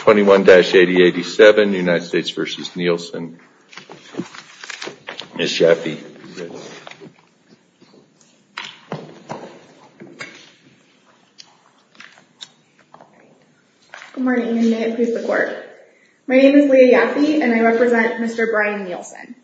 21-8087, United States v. Nielsen. Ms. Yaffe, please. Good morning, and may it please the Court. My name is Leah Yaffe, and I represent Mr. Brian Nielsen.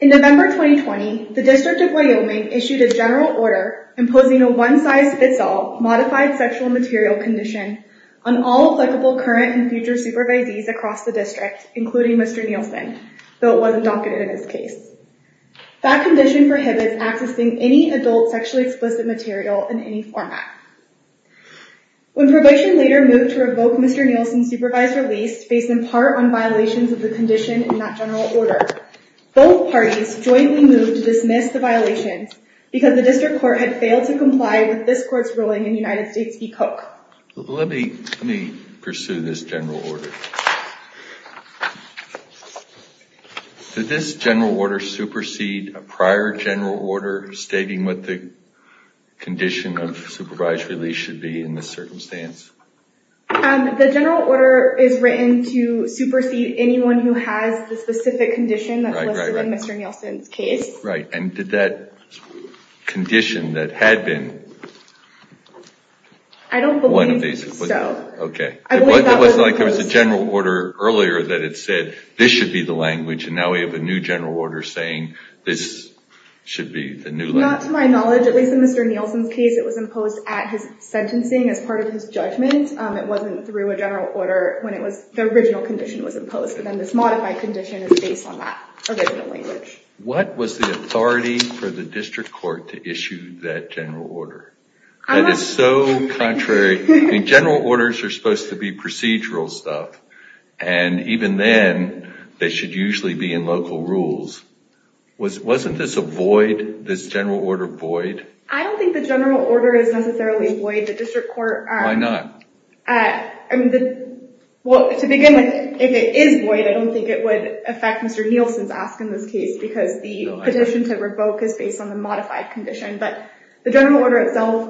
In November 2020, the District of Wyoming issued a general order imposing a one-size-fits-all, modified sexual material condition on all applicable current and future supervisees across the District, including Mr. Nielsen, though it wasn't docketed in this case. That condition prohibits accessing any adult sexually explicit material in any format. When probation later moved to revoke Mr. Nielsen's supervised release based in part on violations of the condition in that general order, both parties jointly moved to dismiss the violations because the District Court had failed to comply with this Court's ruling in United States v. Cook. Let me pursue this general order. Did this general order supersede a prior general order stating what the condition of supervised release should be in this circumstance? The general order is written to supersede anyone who has the right, and did that condition that had been one of these? I don't believe so. It wasn't like there was a general order earlier that it said this should be the language, and now we have a new general order saying this should be the new language. Not to my knowledge. At least in Mr. Nielsen's case, it was imposed at his sentencing as part of his judgment. It wasn't through a general order when the original condition was imposed, but then this the District Court to issue that general order. That is so contrary. General orders are supposed to be procedural stuff, and even then, they should usually be in local rules. Wasn't this a void, this general order void? I don't think the general order is necessarily void. The District Court... Why not? To begin with, if it is void, I don't think it would affect Mr. Nielsen's ask in this case, because the petition to revoke is based on the modified condition, but the general order itself...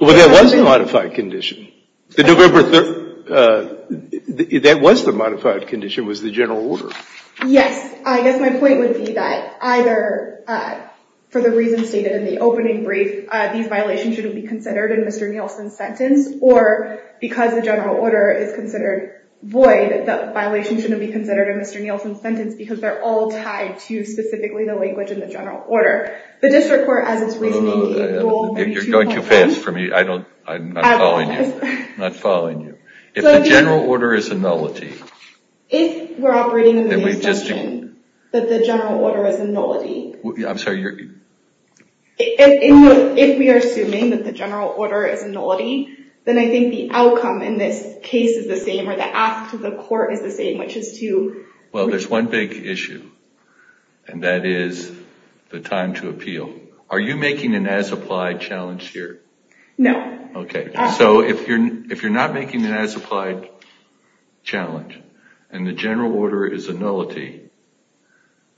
Well, there was a modified condition. That was the modified condition, was the general order. Yes. I guess my point would be that either for the reasons stated in the opening brief, these violations shouldn't be considered in Mr. Nielsen's sentence, or because the general order is considered void, the violation shouldn't be considered in Mr. Nielsen's sentence, because they're all tied to specifically the language in the general order. The District Court, as it's reasoning... You're going too fast for me. I'm not following you. If the general order is a nullity... If we're operating under the assumption that the general order is a nullity... I'm sorry, you're... If we are assuming that the general order is a nullity, then I think the outcome in this case is the same, or the ask to the court is the same, which is to... Well, there's one big issue, and that is the time to appeal. Are you making an as-applied challenge here? No. Okay. So if you're not making an as-applied challenge, and the general order is a nullity,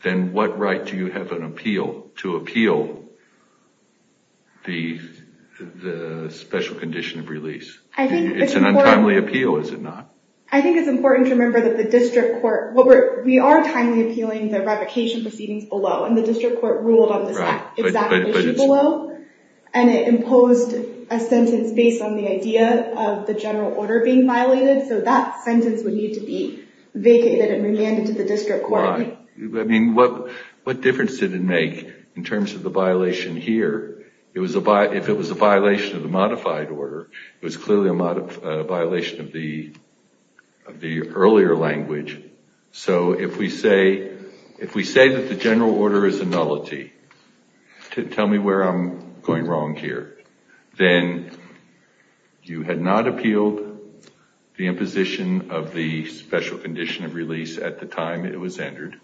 then what right do you have to appeal the special condition of release? It's an untimely appeal, is it not? I think it's important to remember that the District Court... We are timely appealing the revocation proceedings below, and the District Court ruled on this exact issue below, and it imposed a sentence based on the idea of the general order being violated, so that sentence would need to be vacated and remanded to the District Court. Why? I mean, what difference did it make in terms of the violation here? If it was a violation of the modified order, it was clearly a violation of the earlier language. So if we say that the general order is a nullity, tell me where I'm going wrong here, then you had not appealed the imposition of the special condition of release at the time it was entered.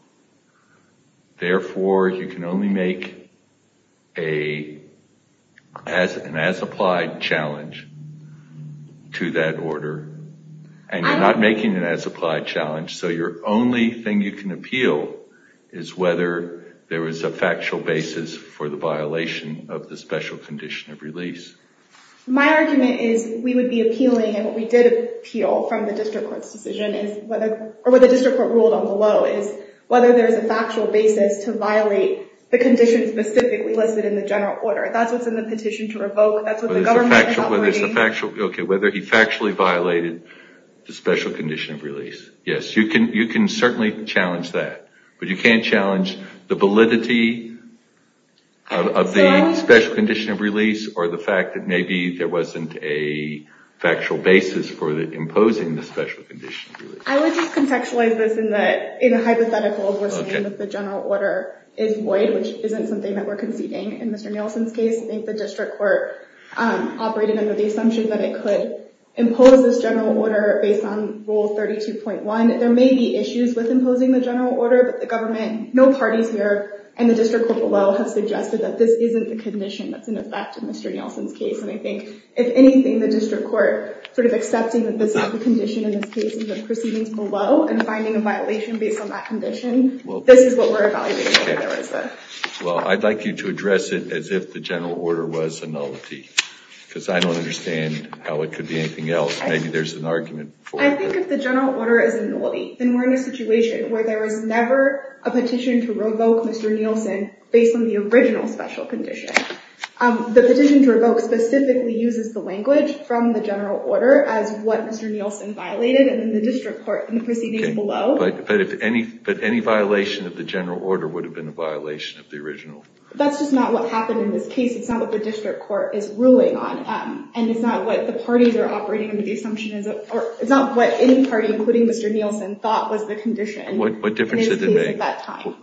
Therefore, you can only make an as-applied challenge to that order, and you're not making an as-applied challenge, so your only thing you can appeal is whether there was a factual basis for the violation of the special condition of release. My argument is we would be appealing, and what we did appeal from the District Court's decision is... Or what the District Court ruled on below is whether there's a factual basis to violate the conditions specifically listed in the general order. That's what's in the petition to revoke. That's what the government is operating... Whether he factually violated the special condition of release. Yes, you can certainly challenge that, but you can't challenge the validity of the special condition of release or the fact that maybe there wasn't a factual basis for imposing the special condition of release. I would just contextualize this in a hypothetical of listening that the general order is void, which isn't something that we're conceding in Mr. Nielsen's case. I think the District Court operated under the assumption that it could impose this general order based on Rule 32.1. There may be issues with imposing the general order, but the government, no parties here, and the District Court below have suggested that this isn't the condition that's in effect in Mr. Nielsen's case. I think, if anything, the District Court sort of accepting that this is the condition in this case and the proceedings below and finding a violation based on that condition, this is what we're evaluating. Well, I'd like you to address it as if the general order was a nullity, because I don't understand how it could be anything else. Maybe there's an argument for that. I think if the general order is a nullity, then we're in a situation where there was never a petition to revoke Mr. Nielsen based on the original special condition. The petition to revoke specifically uses the language from the general order as what Mr. Nielsen violated in the District Court in the proceedings below. But any violation of the general order would have been a violation of the original. That's just not what happened in this case. It's not what the District Court is ruling on, and it's not what any party, including Mr. Nielsen, thought was the condition in this case at that time.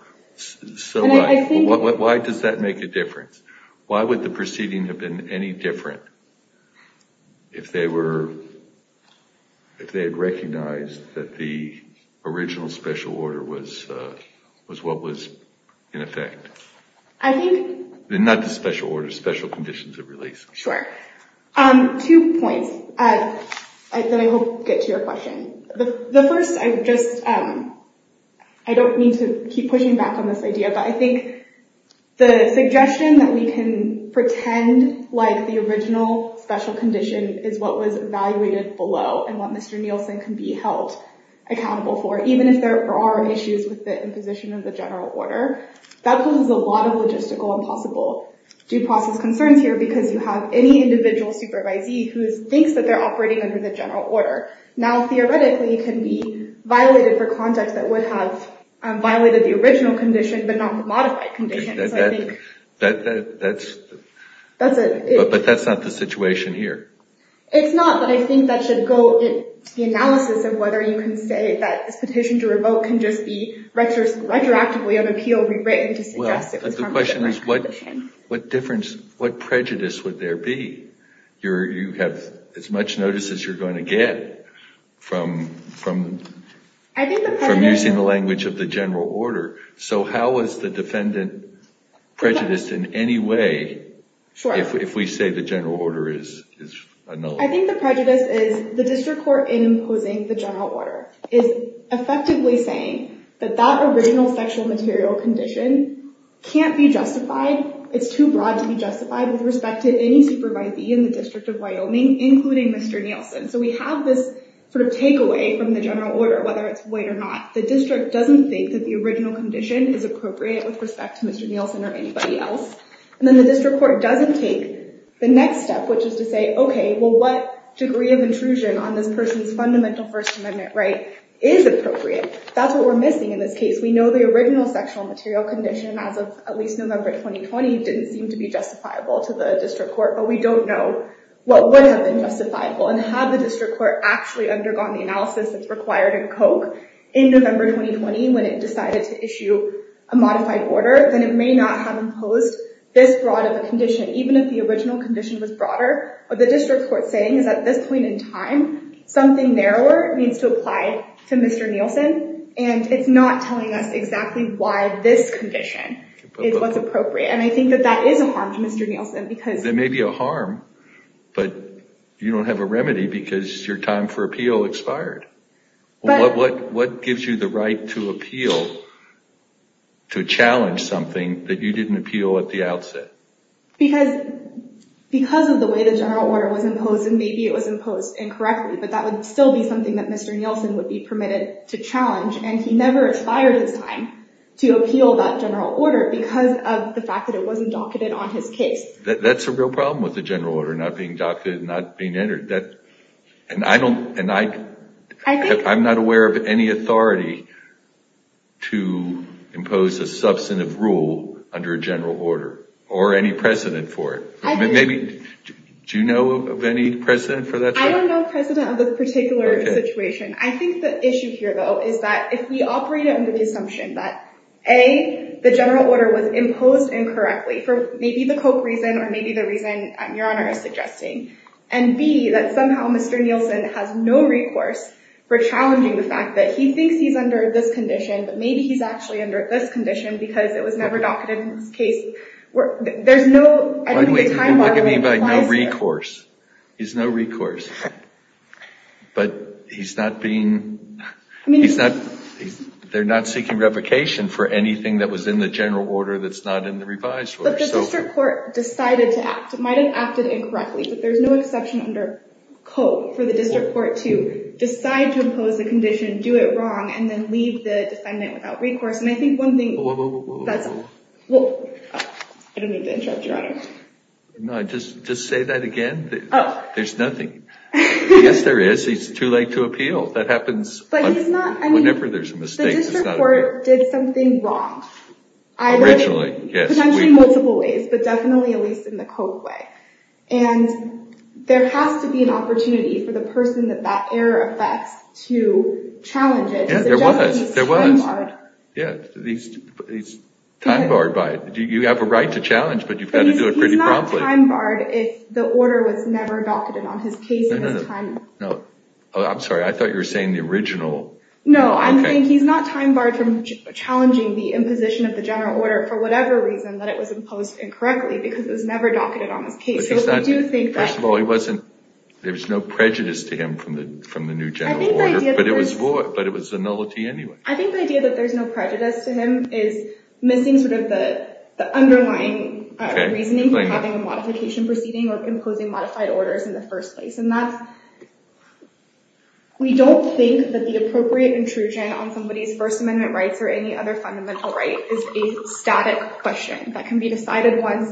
So why does that make a difference? Why would the proceeding have been any different if they had recognized that the original special order was what was in effect? Not the special order, special conditions of release. Sure. Two points that I hope get to your question. The first, I don't mean to keep pushing back on this idea, but I think the suggestion that we can pretend like the original special condition is what was evaluated below and what Mr. Nielsen can be held accountable for, even if there are issues with the imposition of the general order, that poses a lot of logistical and possible due process concerns here, because you have any individual supervisee who thinks that they're operating under the general order. Now, theoretically, it can be violated for conduct that would have violated the original condition, but not the modified condition. But that's not the situation here. It's not, but I think that should go in the analysis of whether you can say that this petition to revoke can just be retroactively have appeal rewritten to suggest it was from a different condition. Well, the question is, what difference, what prejudice would there be? You have as much notice as you're going to get from using the language of the general order. So how is the defendant prejudiced in any way if we say the general order is null? I think the prejudice is the district court in imposing the general order is effectively saying that that original sexual material condition can't be justified. It's too broad to be justified with respect to any supervisee in the District of Wyoming, including Mr. Nielsen. So we have this takeaway from the general order, whether it's white or not. The district doesn't think that the original condition is appropriate with respect to Mr. Nielsen or anybody else. And then the district court doesn't take the next step, which is to say, okay, well, what degree of intrusion on this person's fundamental First Amendment right is appropriate. That's what we're missing in this case. We know the original sexual material condition, as of at least November 2020, didn't seem to be justifiable to the district court, but we don't know what would have been justifiable. And had the district court actually undergone the analysis that's required in Koch in November 2020, when it decided to issue a modified order, then it may not have imposed this broad of a condition, even if the original condition was broader. What the district court's saying is at this point in time, something narrower needs to apply to Mr. Nielsen, and it's not telling us exactly why this condition is what's appropriate. And I think that that is a harm to Mr. Nielsen because... It may be a harm, but you don't have a remedy because your time for appeal expired. What gives you the right to appeal, to challenge something that you didn't appeal at the outset? Because of the way the general order was imposed, and maybe it was imposed incorrectly, but that would still be something that Mr. Nielsen would be permitted to challenge, and he never expired his time to appeal that general order because of the fact that it wasn't docketed on his case. That's a real problem with the general order not being docketed, not being entered. And I'm not aware of any authority to impose a substantive rule under a general order, or any precedent for it. Do you know of any precedent for that? I don't know of precedent of a particular situation. I think the issue here, though, is that if we operate under the assumption that A, the general order was imposed incorrectly for maybe the Koch reason or maybe the reason Your Honor is suggesting, and B, that somehow Mr. Nielsen has no recourse for challenging the fact that he thinks he's under this condition, but maybe he's actually under this condition because it was never docketed in his case. There's no, I don't think the time model implies that. Why do we even look at him by no recourse? He's no recourse. But he's not being, he's not, they're not seeking revocation for anything that was in the general order that's not in the revised order. But the district court decided to act. It might have acted incorrectly, but there's no exception under Koch for the district court to decide to impose a condition, do it wrong, and then leave the defendant without recourse. And I think one thing that's... Whoa, whoa, whoa, whoa. I don't mean to interrupt, Your Honor. No, just say that again. There's nothing. Yes, there is. It's too late to appeal. That happens whenever there's a mistake. But he's not, I mean, the district court did something wrong. Originally, yes. Potentially in multiple ways, but definitely at least in the Koch way. And there has to be an opportunity for the person that that error affects to challenge it, to suggest that he's time-barred. Yeah, there was. Yeah, he's time-barred by it. You have a right to challenge, but you've got to do it pretty promptly. But he's not time-barred if the order was never docketed on his case in his time... No, I'm sorry. I thought you were saying the original. No, I'm saying he's not time-barred from challenging the imposition of the general order for whatever reason that it was imposed incorrectly, because it was never docketed on his case. So I do think that... First of all, there was no prejudice to him from the new general order, but it was a nullity anyway. I think the idea that there's no prejudice to him is missing sort of the underlying reasoning for having a modification proceeding or imposing modified orders in the first place. And that's, we don't think that the appropriate intrusion on somebody's First Amendment rights or any other fundamental right is a static question that can be decided once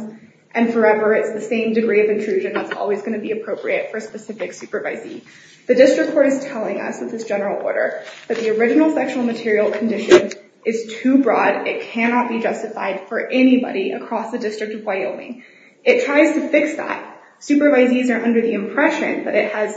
and forever. It's the same degree of intrusion that's always going to be appropriate for a specific supervisee. The district court is telling us in this general order that the original sexual material condition is too broad. It cannot be justified for anybody across the District of Wyoming. It tries to fix that. Supervisees are under the impression that it has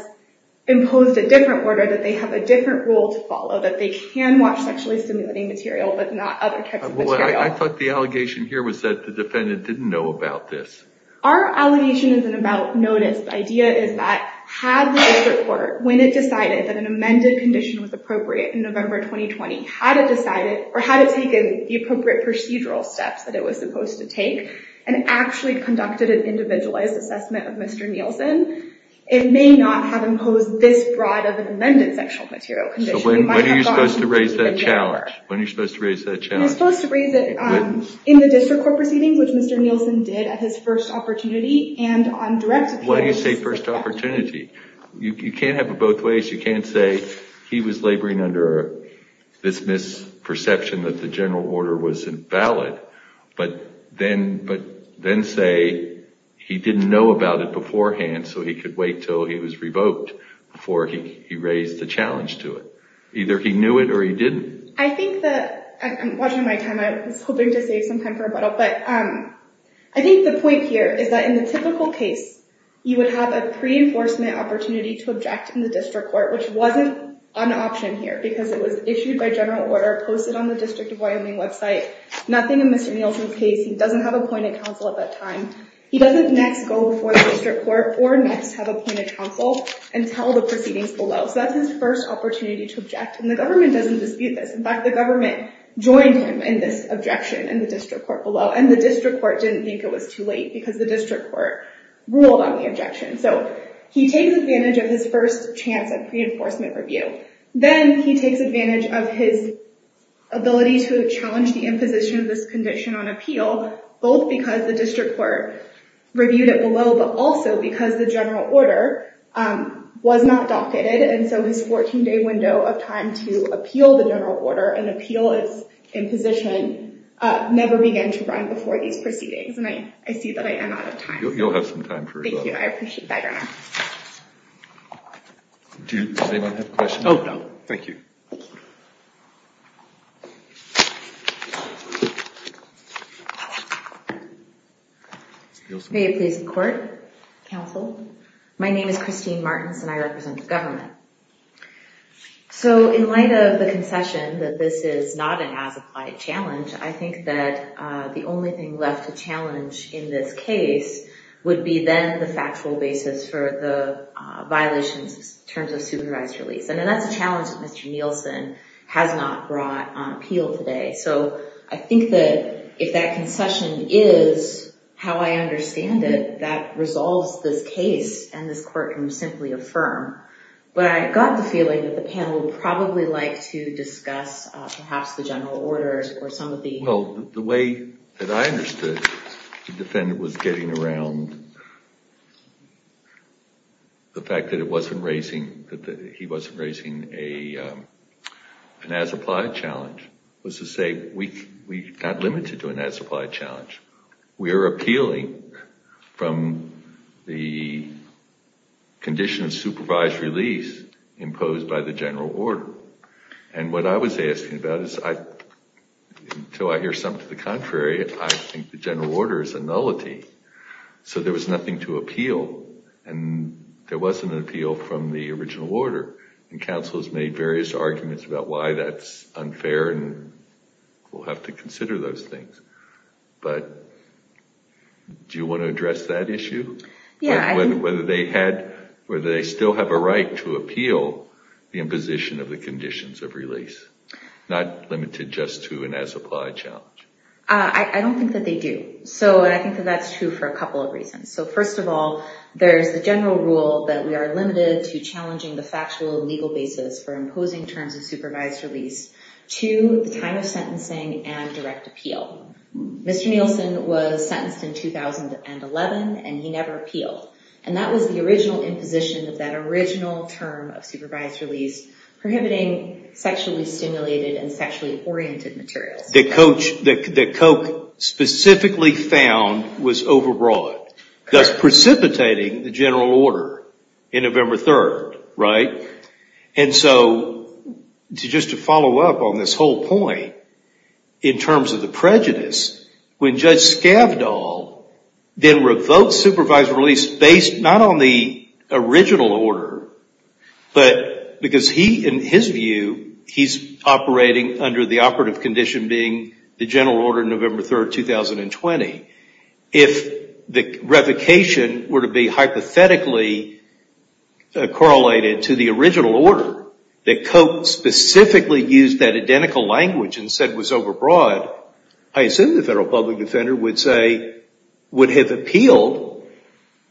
imposed a different order, that they have a different rule to follow, that they can watch sexually stimulating material, but not other types of material. I thought the allegation here was that the defendant didn't know about this. Our allegation isn't about notice. The idea is that had the district court, when it decided that an amended condition was appropriate in November 2020, had it decided or had it taken the appropriate procedural steps that it was supposed to take and actually conducted an individualized assessment of Mr. Nielsen, it may not have imposed this broad of an amended sexual material condition. When are you supposed to raise that challenge? When are you supposed to raise that challenge? You're supposed to raise it in the district court proceedings, which Mr. Nielsen did at his first opportunity, and on direct appeal. Why do you say first opportunity? You can't have it both ways. You can't say he was laboring under this misperception that the general order was invalid, but then say he didn't know about it beforehand, so he could wait until he was revoked before he raised the challenge to it. Either he knew it or he didn't. I think that... I'm watching my time. I was hoping to save some time for rebuttal. I think the point here is that in the typical case, you would have a pre-enforcement opportunity to object in the district court, which wasn't an option here because it was issued by general order, posted on the District of Wyoming website, nothing in Mr. Nielsen's case. He doesn't have appointed counsel at that time. He doesn't next go before the district court or next have appointed counsel and tell the proceedings below. That's his first opportunity to object, and the government doesn't dispute this. In fact, the government joined him in this objection in the district court below, and the district court didn't think it was too late because the district court ruled on the objection. He takes advantage of his first chance at pre-enforcement review. Then he takes advantage of his ability to challenge the imposition of this condition on appeal, both because the district court reviewed it below, but also because the general order was not docketed, and so his 14-day window of time to appeal the general order and appeal his imposition never began to run before these proceedings. I see that I am out of time. You'll have some time for rebuttal. Thank you. I appreciate that, Your Honor. Does anyone have a question? No. Thank you. May it please the court? Counsel? My name is Christine Martins, and I represent the government. In light of the concession that this is not an as-applied challenge, I think that the only thing left to challenge in this case would be then the factual basis for the violations in terms of supervised release. That's a challenge that Mr. Nielsen has not brought on appeal today. I think that if that concession is how I understand it, that resolves this case, and this court can simply affirm. But I got the feeling that the panel would probably like to discuss perhaps the general order or some of the... The way that I understood the defendant was getting around the fact that he wasn't raising an as-applied challenge. It was to say, we're not limited to an as-applied challenge. We are appealing from the condition of supervised release imposed by the general order. And what I was asking about is, until I hear something to the contrary, I think the general order is a nullity. So there was nothing to appeal. And there was an appeal from the original order. And counsel has made various arguments about why that's unfair, and we'll have to consider those things. But do you want to address that issue? Yeah. Whether they still have a right to appeal the imposition of the conditions of release, not limited just to an as-applied challenge. I don't think that they do. And I think that that's true for a couple of reasons. So first of all, there's the general rule that we are limited to challenging the factual and legal basis for imposing terms of supervised release to the time of sentencing and direct appeal. Mr. Nielsen was sentenced in 2011, and he never appealed. And that was the original imposition of that original term of supervised release, prohibiting sexually stimulated and sexually oriented materials. That Koch specifically found was overbroad, thus precipitating the general order in November 3rd, right? And so just to follow up on this whole point, in terms of the prejudice, when Judge Skavdal then revoked supervised release based not on the original order, but because he, in his view, he's operating under the operative condition being the general order November 3rd, 2020. If the revocation were to be hypothetically correlated to the original order that Koch specifically used that identical language and said was overbroad, I assume the federal public defender would say would have appealed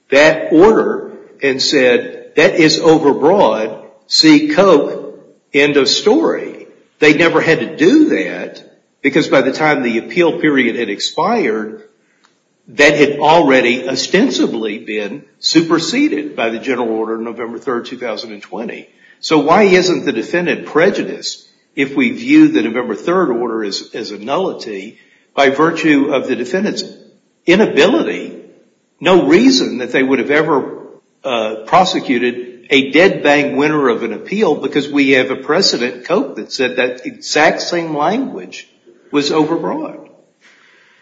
that order and said that is overbroad, see Koch, end of story. They never had to do that because by the time the appeal period had expired, that had already ostensibly been superseded by the general order November 3rd, 2020. So why isn't the defendant prejudiced if we view the November 3rd order as a nullity by virtue of the defendant's inability, no reason that they would have ever prosecuted a dead-bang winner of an appeal because we have a precedent, Koch, that said that exact same language was overbroad.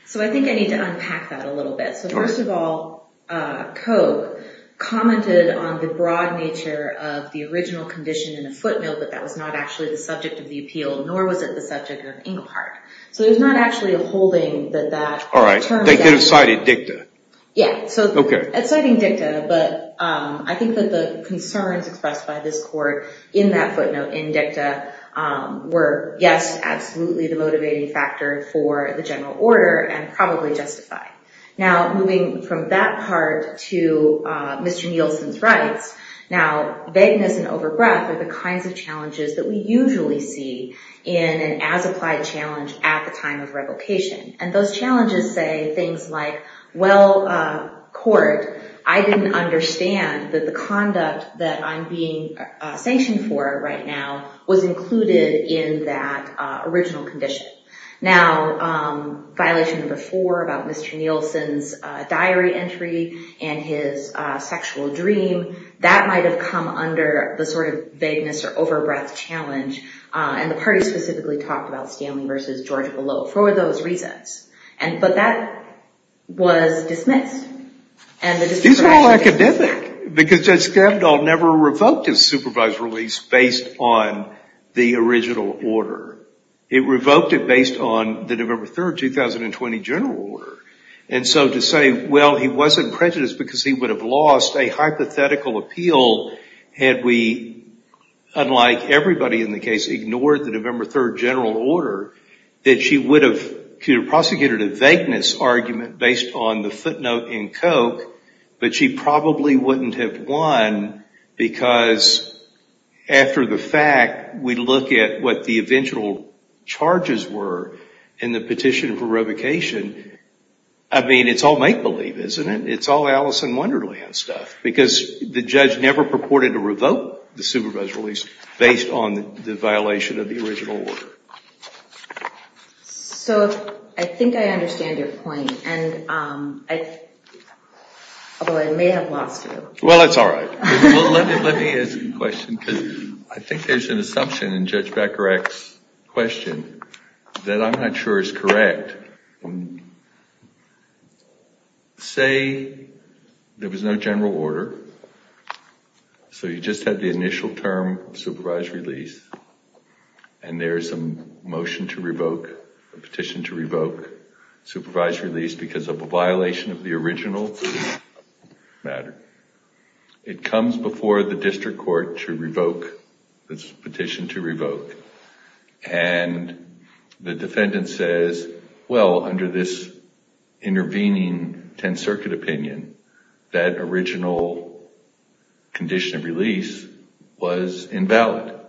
So I think I need to unpack that a little bit. So first of all, Koch commented on the broad nature of the original condition in the footnail, but that was not actually the subject of the appeal, nor was it the subject of Engelhardt. So there's not actually a holding that that term... They could have cited dicta. Yeah. Okay. Exciting dicta, but I think that the concerns expressed by this court in that footnote in dicta were, yes, absolutely the motivating factor for the general order and probably justified. Now moving from that part to Mr. Nielsen's rights, now vagueness and overbreath are the kinds of challenges that we usually see in an as-applied challenge at the time of revocation. And those challenges say things like, well, court, I didn't understand that the conduct that I'm being sanctioned for right now was included in that original condition. Now violation number four about Mr. Nielsen's diary entry and his sexual dream, that might have come under the sort of vagueness or overbreath challenge, and the party specifically talked about for those reasons. But that was dismissed. These are all academic because Judge Skavdal never revoked his supervised release based on the original order. It revoked it based on the November 3, 2020 general order. And so to say, well, he wasn't prejudiced because he would have lost a hypothetical appeal had we, unlike everybody in the case, ignored the November 3 general order, that she would have prosecuted a vagueness argument based on the footnote in Koch, but she probably wouldn't have won because after the fact, we look at what the eventual charges were in the petition for revocation. I mean, it's all make-believe, isn't it? It's all Alice in Wonderland stuff because the judge never purported to revoke the supervised release based on the violation of the original order. So I think I understand your point, although I may have lost you. Well, that's all right. Let me ask a question because I think there's an assumption in Judge Becker-Axe's question that I'm not sure is correct. But say there was no general order, so you just had the initial term, supervised release, and there's a motion to revoke, a petition to revoke, supervised release because of a violation of the original matter. It comes before the district court to revoke this petition to revoke, and the defendant says, well, under this intervening 10th Circuit opinion, that original condition of release was invalid.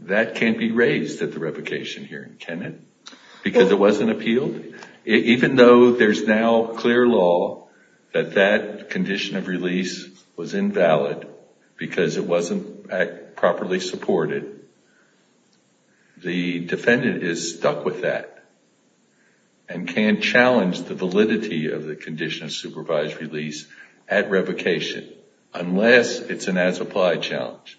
That can't be raised at the revocation hearing, can it? Because it wasn't appealed? Even though there's now clear law that that condition of release was invalid because it wasn't properly supported, the defendant is stuck with that and can't challenge the validity of the condition of supervised release at revocation unless it's an as-applied challenge.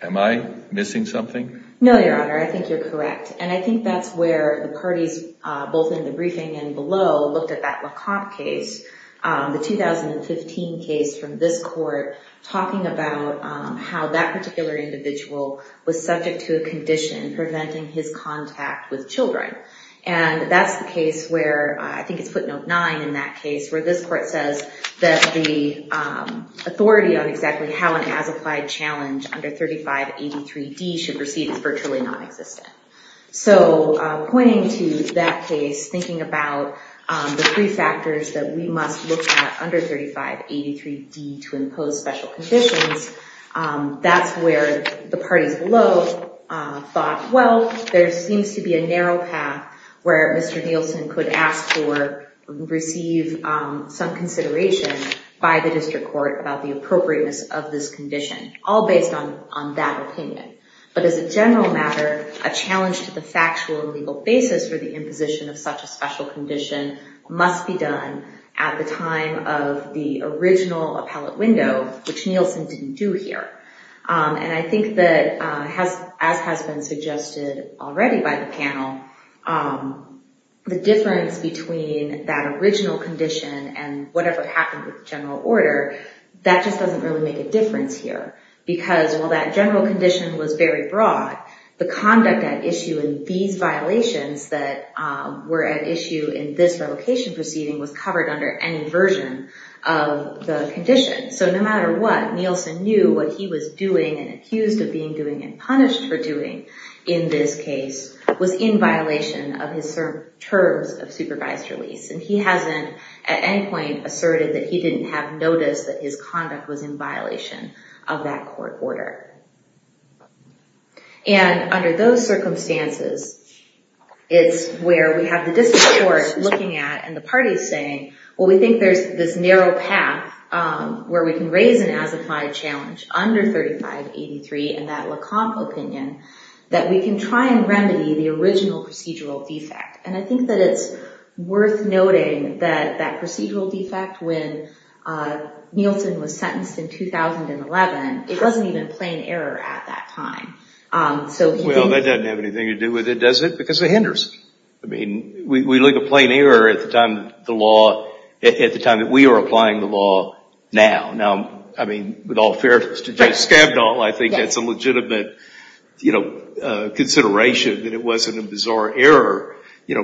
Am I missing something? No, Your Honor. I think you're correct. And I think that's where the parties both in the briefing and below looked at that Lecomte case, the 2015 case from this court, talking about how that particular individual was subject to a condition preventing his contact with children. And that's the case where, I think it's footnote 9 in that case, where this court says that the authority on exactly how an as-applied challenge under 3583D should proceed is virtually non-existent. So, pointing to that case, thinking about the three factors that we must look at under 3583D to impose special conditions, that's where the parties below thought, well, there seems to be a narrow path where Mr. Nielsen could ask for, receive some consideration by the district court about the appropriateness of this condition, all based on that opinion. But as a general matter, a challenge to the factual and legal basis for the imposition of such a special condition must be done at the time of the original appellate window, which Nielsen didn't do here. And I think that, as has been suggested already by the panel, the difference between that original condition and whatever happened with general order, that just doesn't really make a difference here. Because while that general condition was very broad, the conduct at issue in these violations that were at issue in this relocation proceeding was covered under any version of the condition. So no matter what, Nielsen knew what he was doing and accused of being doing and punished for doing in this case was in violation of his terms of supervised release. And he hasn't at any point asserted that he didn't have noticed that his conduct was in violation of that court order. And under those circumstances, it's where we have the district court looking at and the parties saying, well, we think there's this narrow path where we can raise an as-applied challenge under 3583 and that Lecomte opinion, that we can try and remedy the original procedural defect. And I think that it's worth noting that that procedural defect, when Nielsen was sentenced in 2011, it wasn't even a plain error at that time. Well, that doesn't have anything to do with it, does it? Because it hinders it. I mean, we look at plain error at the time the law, at the time that we are applying the law now. Now, I mean, with all fairness to Judge Skabdal, I think that's a legitimate consideration that it wasn't a bizarre error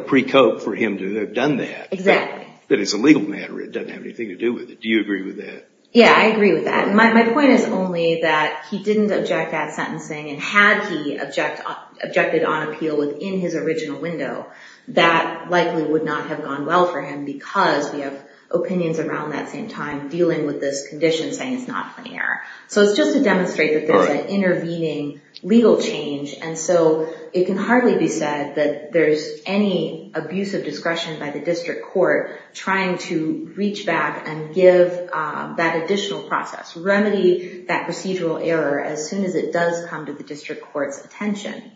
pre-court for him to have done that. Exactly. But as a legal matter, it doesn't have anything to do with it. Do you agree with that? Yeah, I agree with that. My point is only that he didn't object at sentencing, and had he objected on appeal within his original window, that likely would not have gone well for him because we have opinions around that same time dealing with this condition saying it's not a plain error. So it's just to demonstrate that there's an intervening legal change. And so it can hardly be said that there's any abuse of discretion by the district court trying to reach back and give that additional process, remedy that procedural error as soon as it does come to the district court's attention.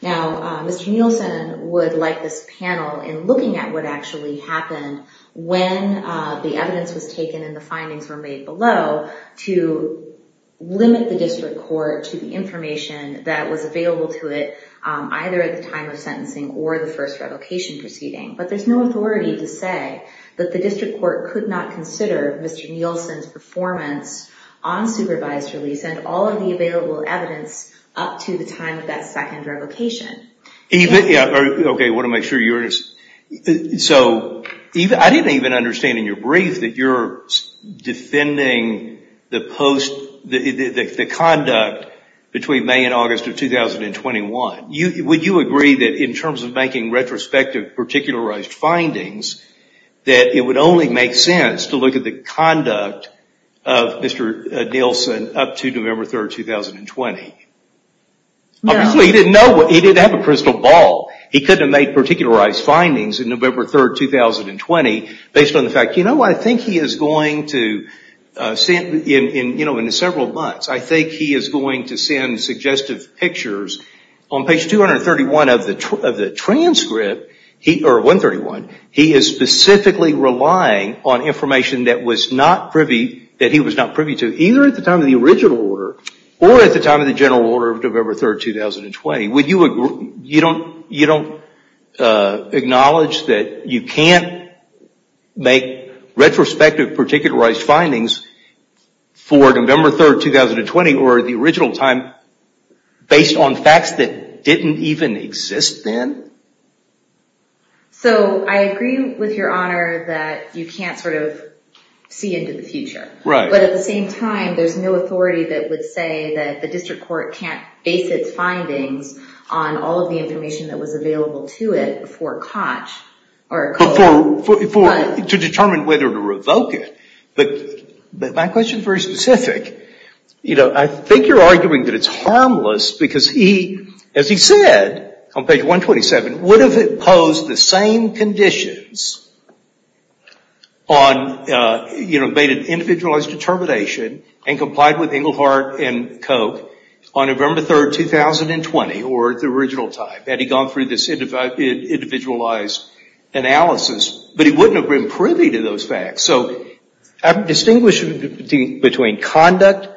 Now, Mr. Nielsen would like this panel, in looking at what actually happened when the evidence was taken and the findings were made below, to limit the district court to the information that was available to it either at the time of sentencing or the first revocation proceeding. But there's no authority to say that the district court could not consider Mr. Nielsen's performance on supervised release and all of the available evidence up to the time of that second revocation. Okay, I want to make sure you understand. So I didn't even understand in your brief that you're defending the conduct between May and August of 2021. Would you agree that in terms of making retrospective, particularized findings, that it would only make sense to look at the conduct of Mr. Nielsen up to November 3rd, 2020? No. Obviously, he didn't have a crystal ball. He couldn't have made particularized findings in November 3rd, 2020, based on the fact, you know, I think he is going to, in several months, I think he is going to send suggestive pictures. On page 231 of the transcript, or 131, he is specifically relying on information that he was not privy to, either at the time of the original order or at the time of the general order of November 3rd, 2020. Would you agree, you don't acknowledge that you can't make retrospective, particularized findings for November 3rd, 2020 or the original time, based on facts that didn't even exist then? So, I agree with your honor that you can't sort of see into the future. Right. But at the same time, there is no authority that would say that the district court can't base its findings on all of the information that was available to it before Koch. To determine whether to revoke it. But my question is very specific. You know, I think you are arguing that it is harmless because he, as he said, on page 127, would have imposed the same conditions on, you know, made an individualized determination and complied with Engelhardt and Koch on November 3rd, 2020, or the original time. Had he gone through this individualized analysis, but he wouldn't have been privy to those facts. So, distinguish between conduct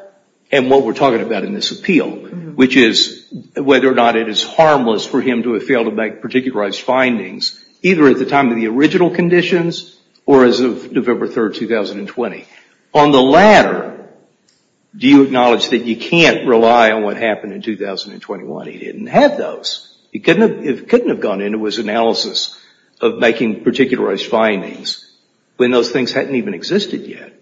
and what we're talking about in this appeal, which is whether or not it is harmless for him to have failed to make particularized findings, either at the time of the original conditions or as of November 3rd, 2020. On the latter, do you acknowledge that you can't rely on what happened in 2021? He didn't have those. He couldn't have gone into his analysis of making particularized findings when those things hadn't even existed yet.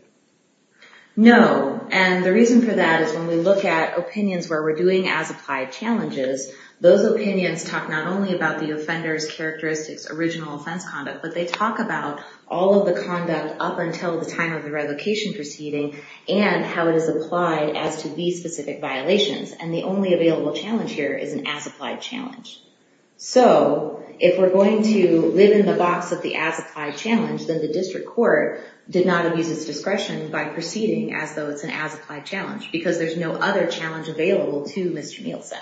No. And the reason for that is when we look at opinions where we're doing as-applied challenges, those opinions talk not only about the offender's characteristics, original offense conduct, but they talk about all of the conduct up until the time of the revocation proceeding and how it is applied as to these specific violations. And the only available challenge here is an as-applied challenge. So, if we're going to live in the box of the as-applied challenge, then the district court did not abuse its discretion by proceeding as though it's an as-applied challenge because there's no other challenge available to Mr. Nielsen.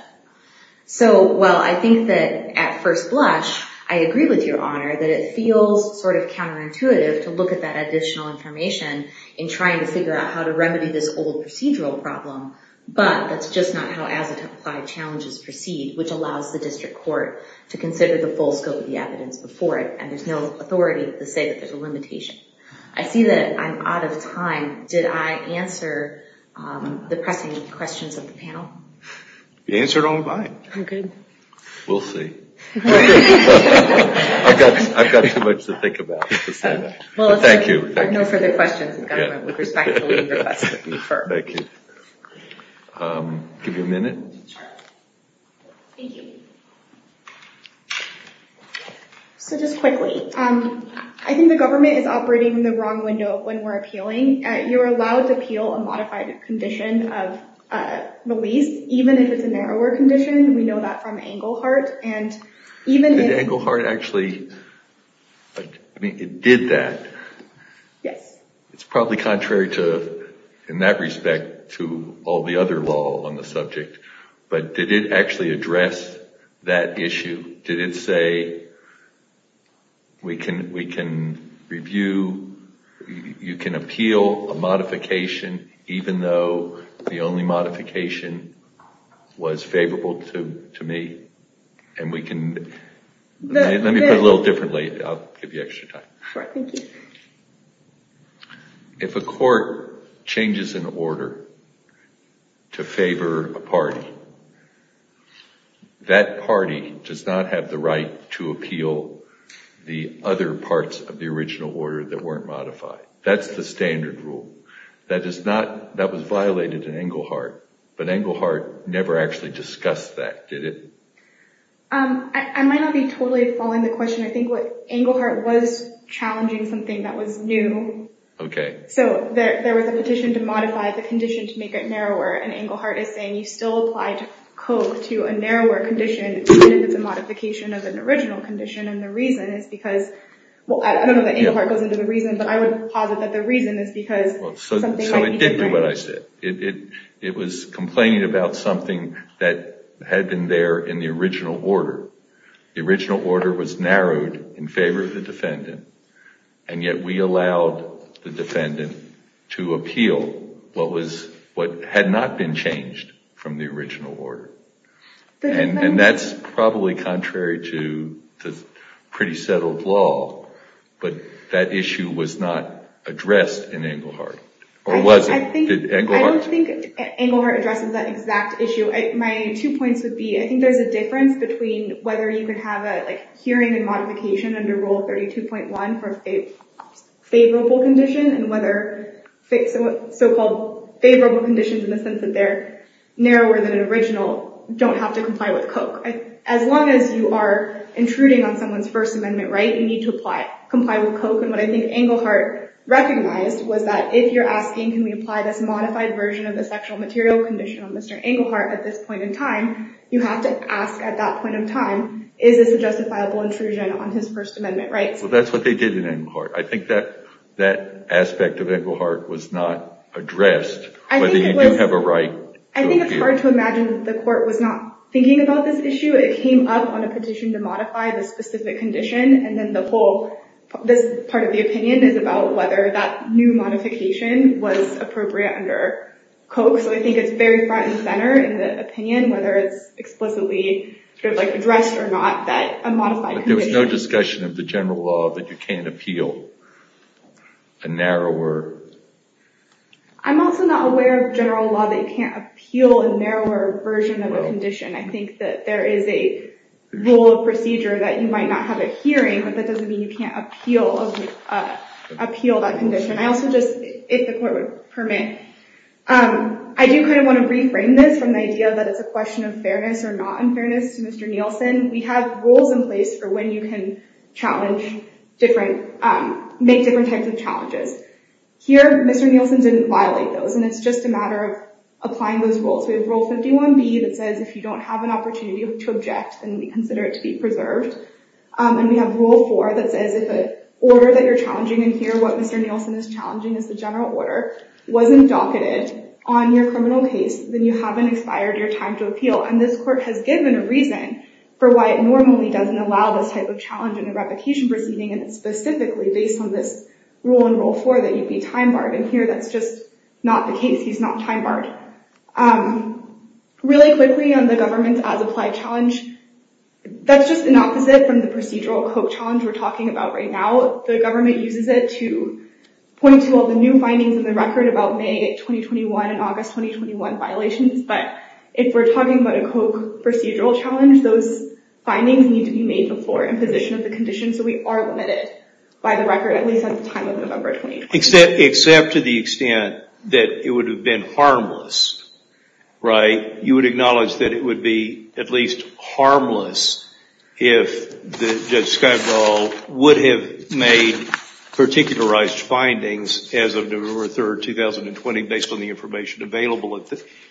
So, while I think that at first blush, I agree with your honor that it feels sort of counterintuitive to look at that additional information in trying to figure out how to remedy this old procedural problem, but that's just not how as-applied challenges proceed, which allows the district court to consider the full scope of the evidence before it, and there's no authority to say that there's a limitation. I see that I'm out of time. Did I answer the pressing questions of the panel? You answered all of mine. Okay. We'll see. I've got too much to think about to say that. Thank you. Well, if there are no further questions, the government would respectfully request that you refer. Thank you. Give you a minute. Sure. Thank you. So, just quickly, I think the government is operating in the wrong window when we're appealing. You're allowed to appeal a modified condition of release, even if it's a narrower condition. We know that from Englehart, and even if... Did Englehart actually... I mean, it did that. Yes. It's probably contrary to, in that respect, to all the other law on the subject, but did it actually address that issue? Did it say, we can review, you can appeal a modification, even though the only modification was favorable to me, and we can... Let me put it a little differently. I'll give you extra time. Sure. Thank you. If a court changes an order to favor a party, that party does not have the right to appeal the other parts of the original order that weren't modified. That's the standard rule. That is not... That was violated in Englehart, but Englehart never actually discussed that, did it? I might not be totally following the question. I think Englehart was challenging something that was new. Okay. There was a petition to modify the condition to make it narrower, and Englehart is saying, you still applied Koch to a narrower condition even if it's a modification of an original condition, and the reason is because... I don't know that Englehart goes into the reason, but I would posit that the reason is because... It did do what I said. It was complaining about something that had been there in the original order. The original order was narrowed in favor of the defendant, and yet we allowed the defendant to appeal what had not been changed from the original order, and that's probably contrary to the pretty settled law, but that issue was not addressed in Englehart, or was it? I don't think Englehart addresses that exact issue. My two points would be, I think there's a difference between whether you could have a hearing and modification under Rule 32.1 for a favorable condition and whether so-called favorable conditions, in the sense that they're narrower than an original, don't have to comply with Koch. As long as you are intruding on someone's First Amendment right, you need to comply with Koch, and what I think Englehart recognized was that if you're asking, can we apply this modified version of the sexual material condition on Mr. Englehart at this point in time, you have to ask at that point in time, is this a justifiable intrusion on his First Amendment rights? Well, that's what they did in Englehart. I think that aspect of Englehart was not addressed, whether you do have a right to appeal. I think it's hard to imagine that the court was not thinking about this issue. It came up on a petition to modify the specific condition, and then this part of the opinion is about whether that new modification was appropriate under Koch, so I think it's very front and center in the opinion, whether it's explicitly addressed or not, that a modified condition... But there was no discussion of the general law that you can't appeal a narrower... I'm also not aware of general law that you can't appeal a narrower version of a condition. I think that there is a rule of procedure that you might not have a hearing, but that doesn't mean you can't appeal that condition. If the court would permit, I do want to reframe this from the idea that it's a question of fairness or not unfairness to Mr. Nielsen. We have rules in place for when you can make different types of challenges. Here, Mr. Nielsen didn't violate those, and it's just a matter of applying those rules. We have Rule 51B that says if you don't have an opportunity to object, then we consider it to be preserved, and we have Rule 4 that says if an order that you're challenging in here, what Mr. Nielsen is challenging is the general order, wasn't docketed on your criminal case, then you haven't expired your time to appeal, and this court has given a reason for why it normally doesn't allow this type of challenge in a replication proceeding, and it's specifically based on this Rule in Rule 4 that you'd be time barred, and here that's just not the case. He's not time barred. Really quickly on the government as applied challenge, that's just an opposite from the procedural coke challenge we're talking about right now. The government uses it to point to all the new findings in the record about May 2021 and August 2021 violations, but if we're talking about a coke procedural challenge, those findings need to be made before imposition of the condition, so we are limited by the record at least at the time of November 2021. Except to the extent that it would have been harmless, right? You would acknowledge that it would be at least harmless if Judge Skivendall would have made particularized findings as of November 3, 2020 based on the information available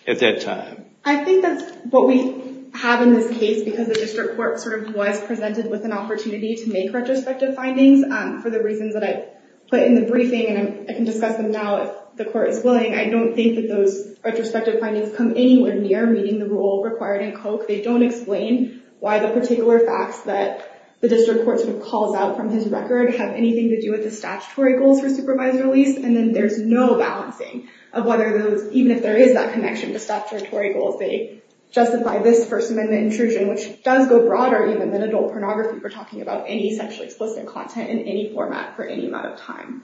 at that time. I think that's what we have in this case because the district court sort of was presented with an opportunity to make retrospective findings for the reasons that I put in the briefing, and I can discuss them now if the court is willing. I don't think that those retrospective findings come anywhere near meeting the Rule required in coke. They don't explain why the particular facts that the district court sort of calls out from his record have anything to do with the statutory goals for supervisory release, and then there's no balancing of whether those, even if there is that connection to statutory goals, they justify this First Amendment intrusion, which does go broader even than adult pornography if we're talking about any sexually explicit content in any format for any amount of time.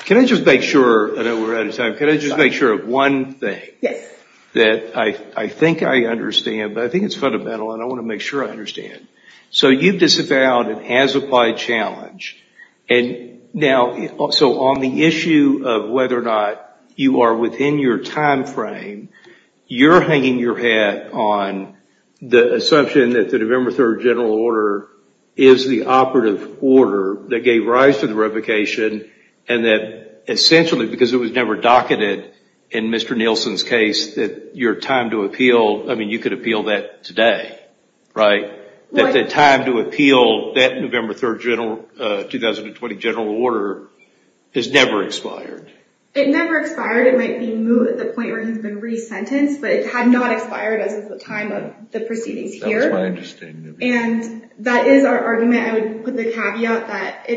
Can I just make sure? I know we're out of time. Can I just make sure of one thing? Yes. That I think I understand, but I think it's fundamental, and I want to make sure I understand. So you've disavowed an as-applied challenge, and now, so on the issue of whether or not you are within your time frame, you're hanging your hat on the assumption that the November 3rd general order is the operative order that gave rise to the revocation and that essentially because it was never docketed in Mr. Nielsen's case that your time to appeal, I mean, you could appeal that today, right? That the time to appeal that November 3rd general, 2020 general order has never expired. It never expired. It might be moved at the point where he's been resentenced, but it had not expired as of the time of the proceedings here. That's my understanding. And that is our argument. I would put the caveat that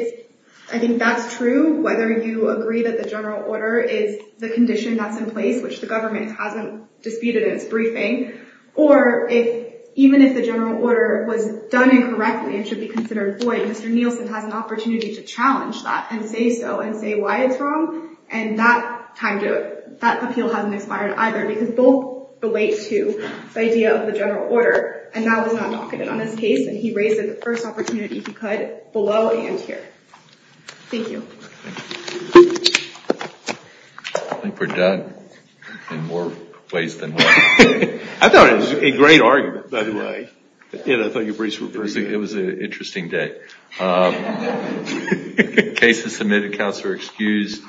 I think that's true, whether you agree that the general order is the condition that's in place, which the government hasn't disputed in its briefing, or even if the general order was done incorrectly and should be considered void, Mr. Nielsen has an opportunity to challenge that and say so and say why it's wrong, and that appeal hasn't expired either because both relate to the idea of the general order, and that was not docketed on his case, and he raised it the first opportunity he could below and here. Thank you. I think we're done in more ways than one. I thought it was a great argument, by the way. I thought your briefs were pretty good. It was an interesting day. Cases submitted, counts are excused.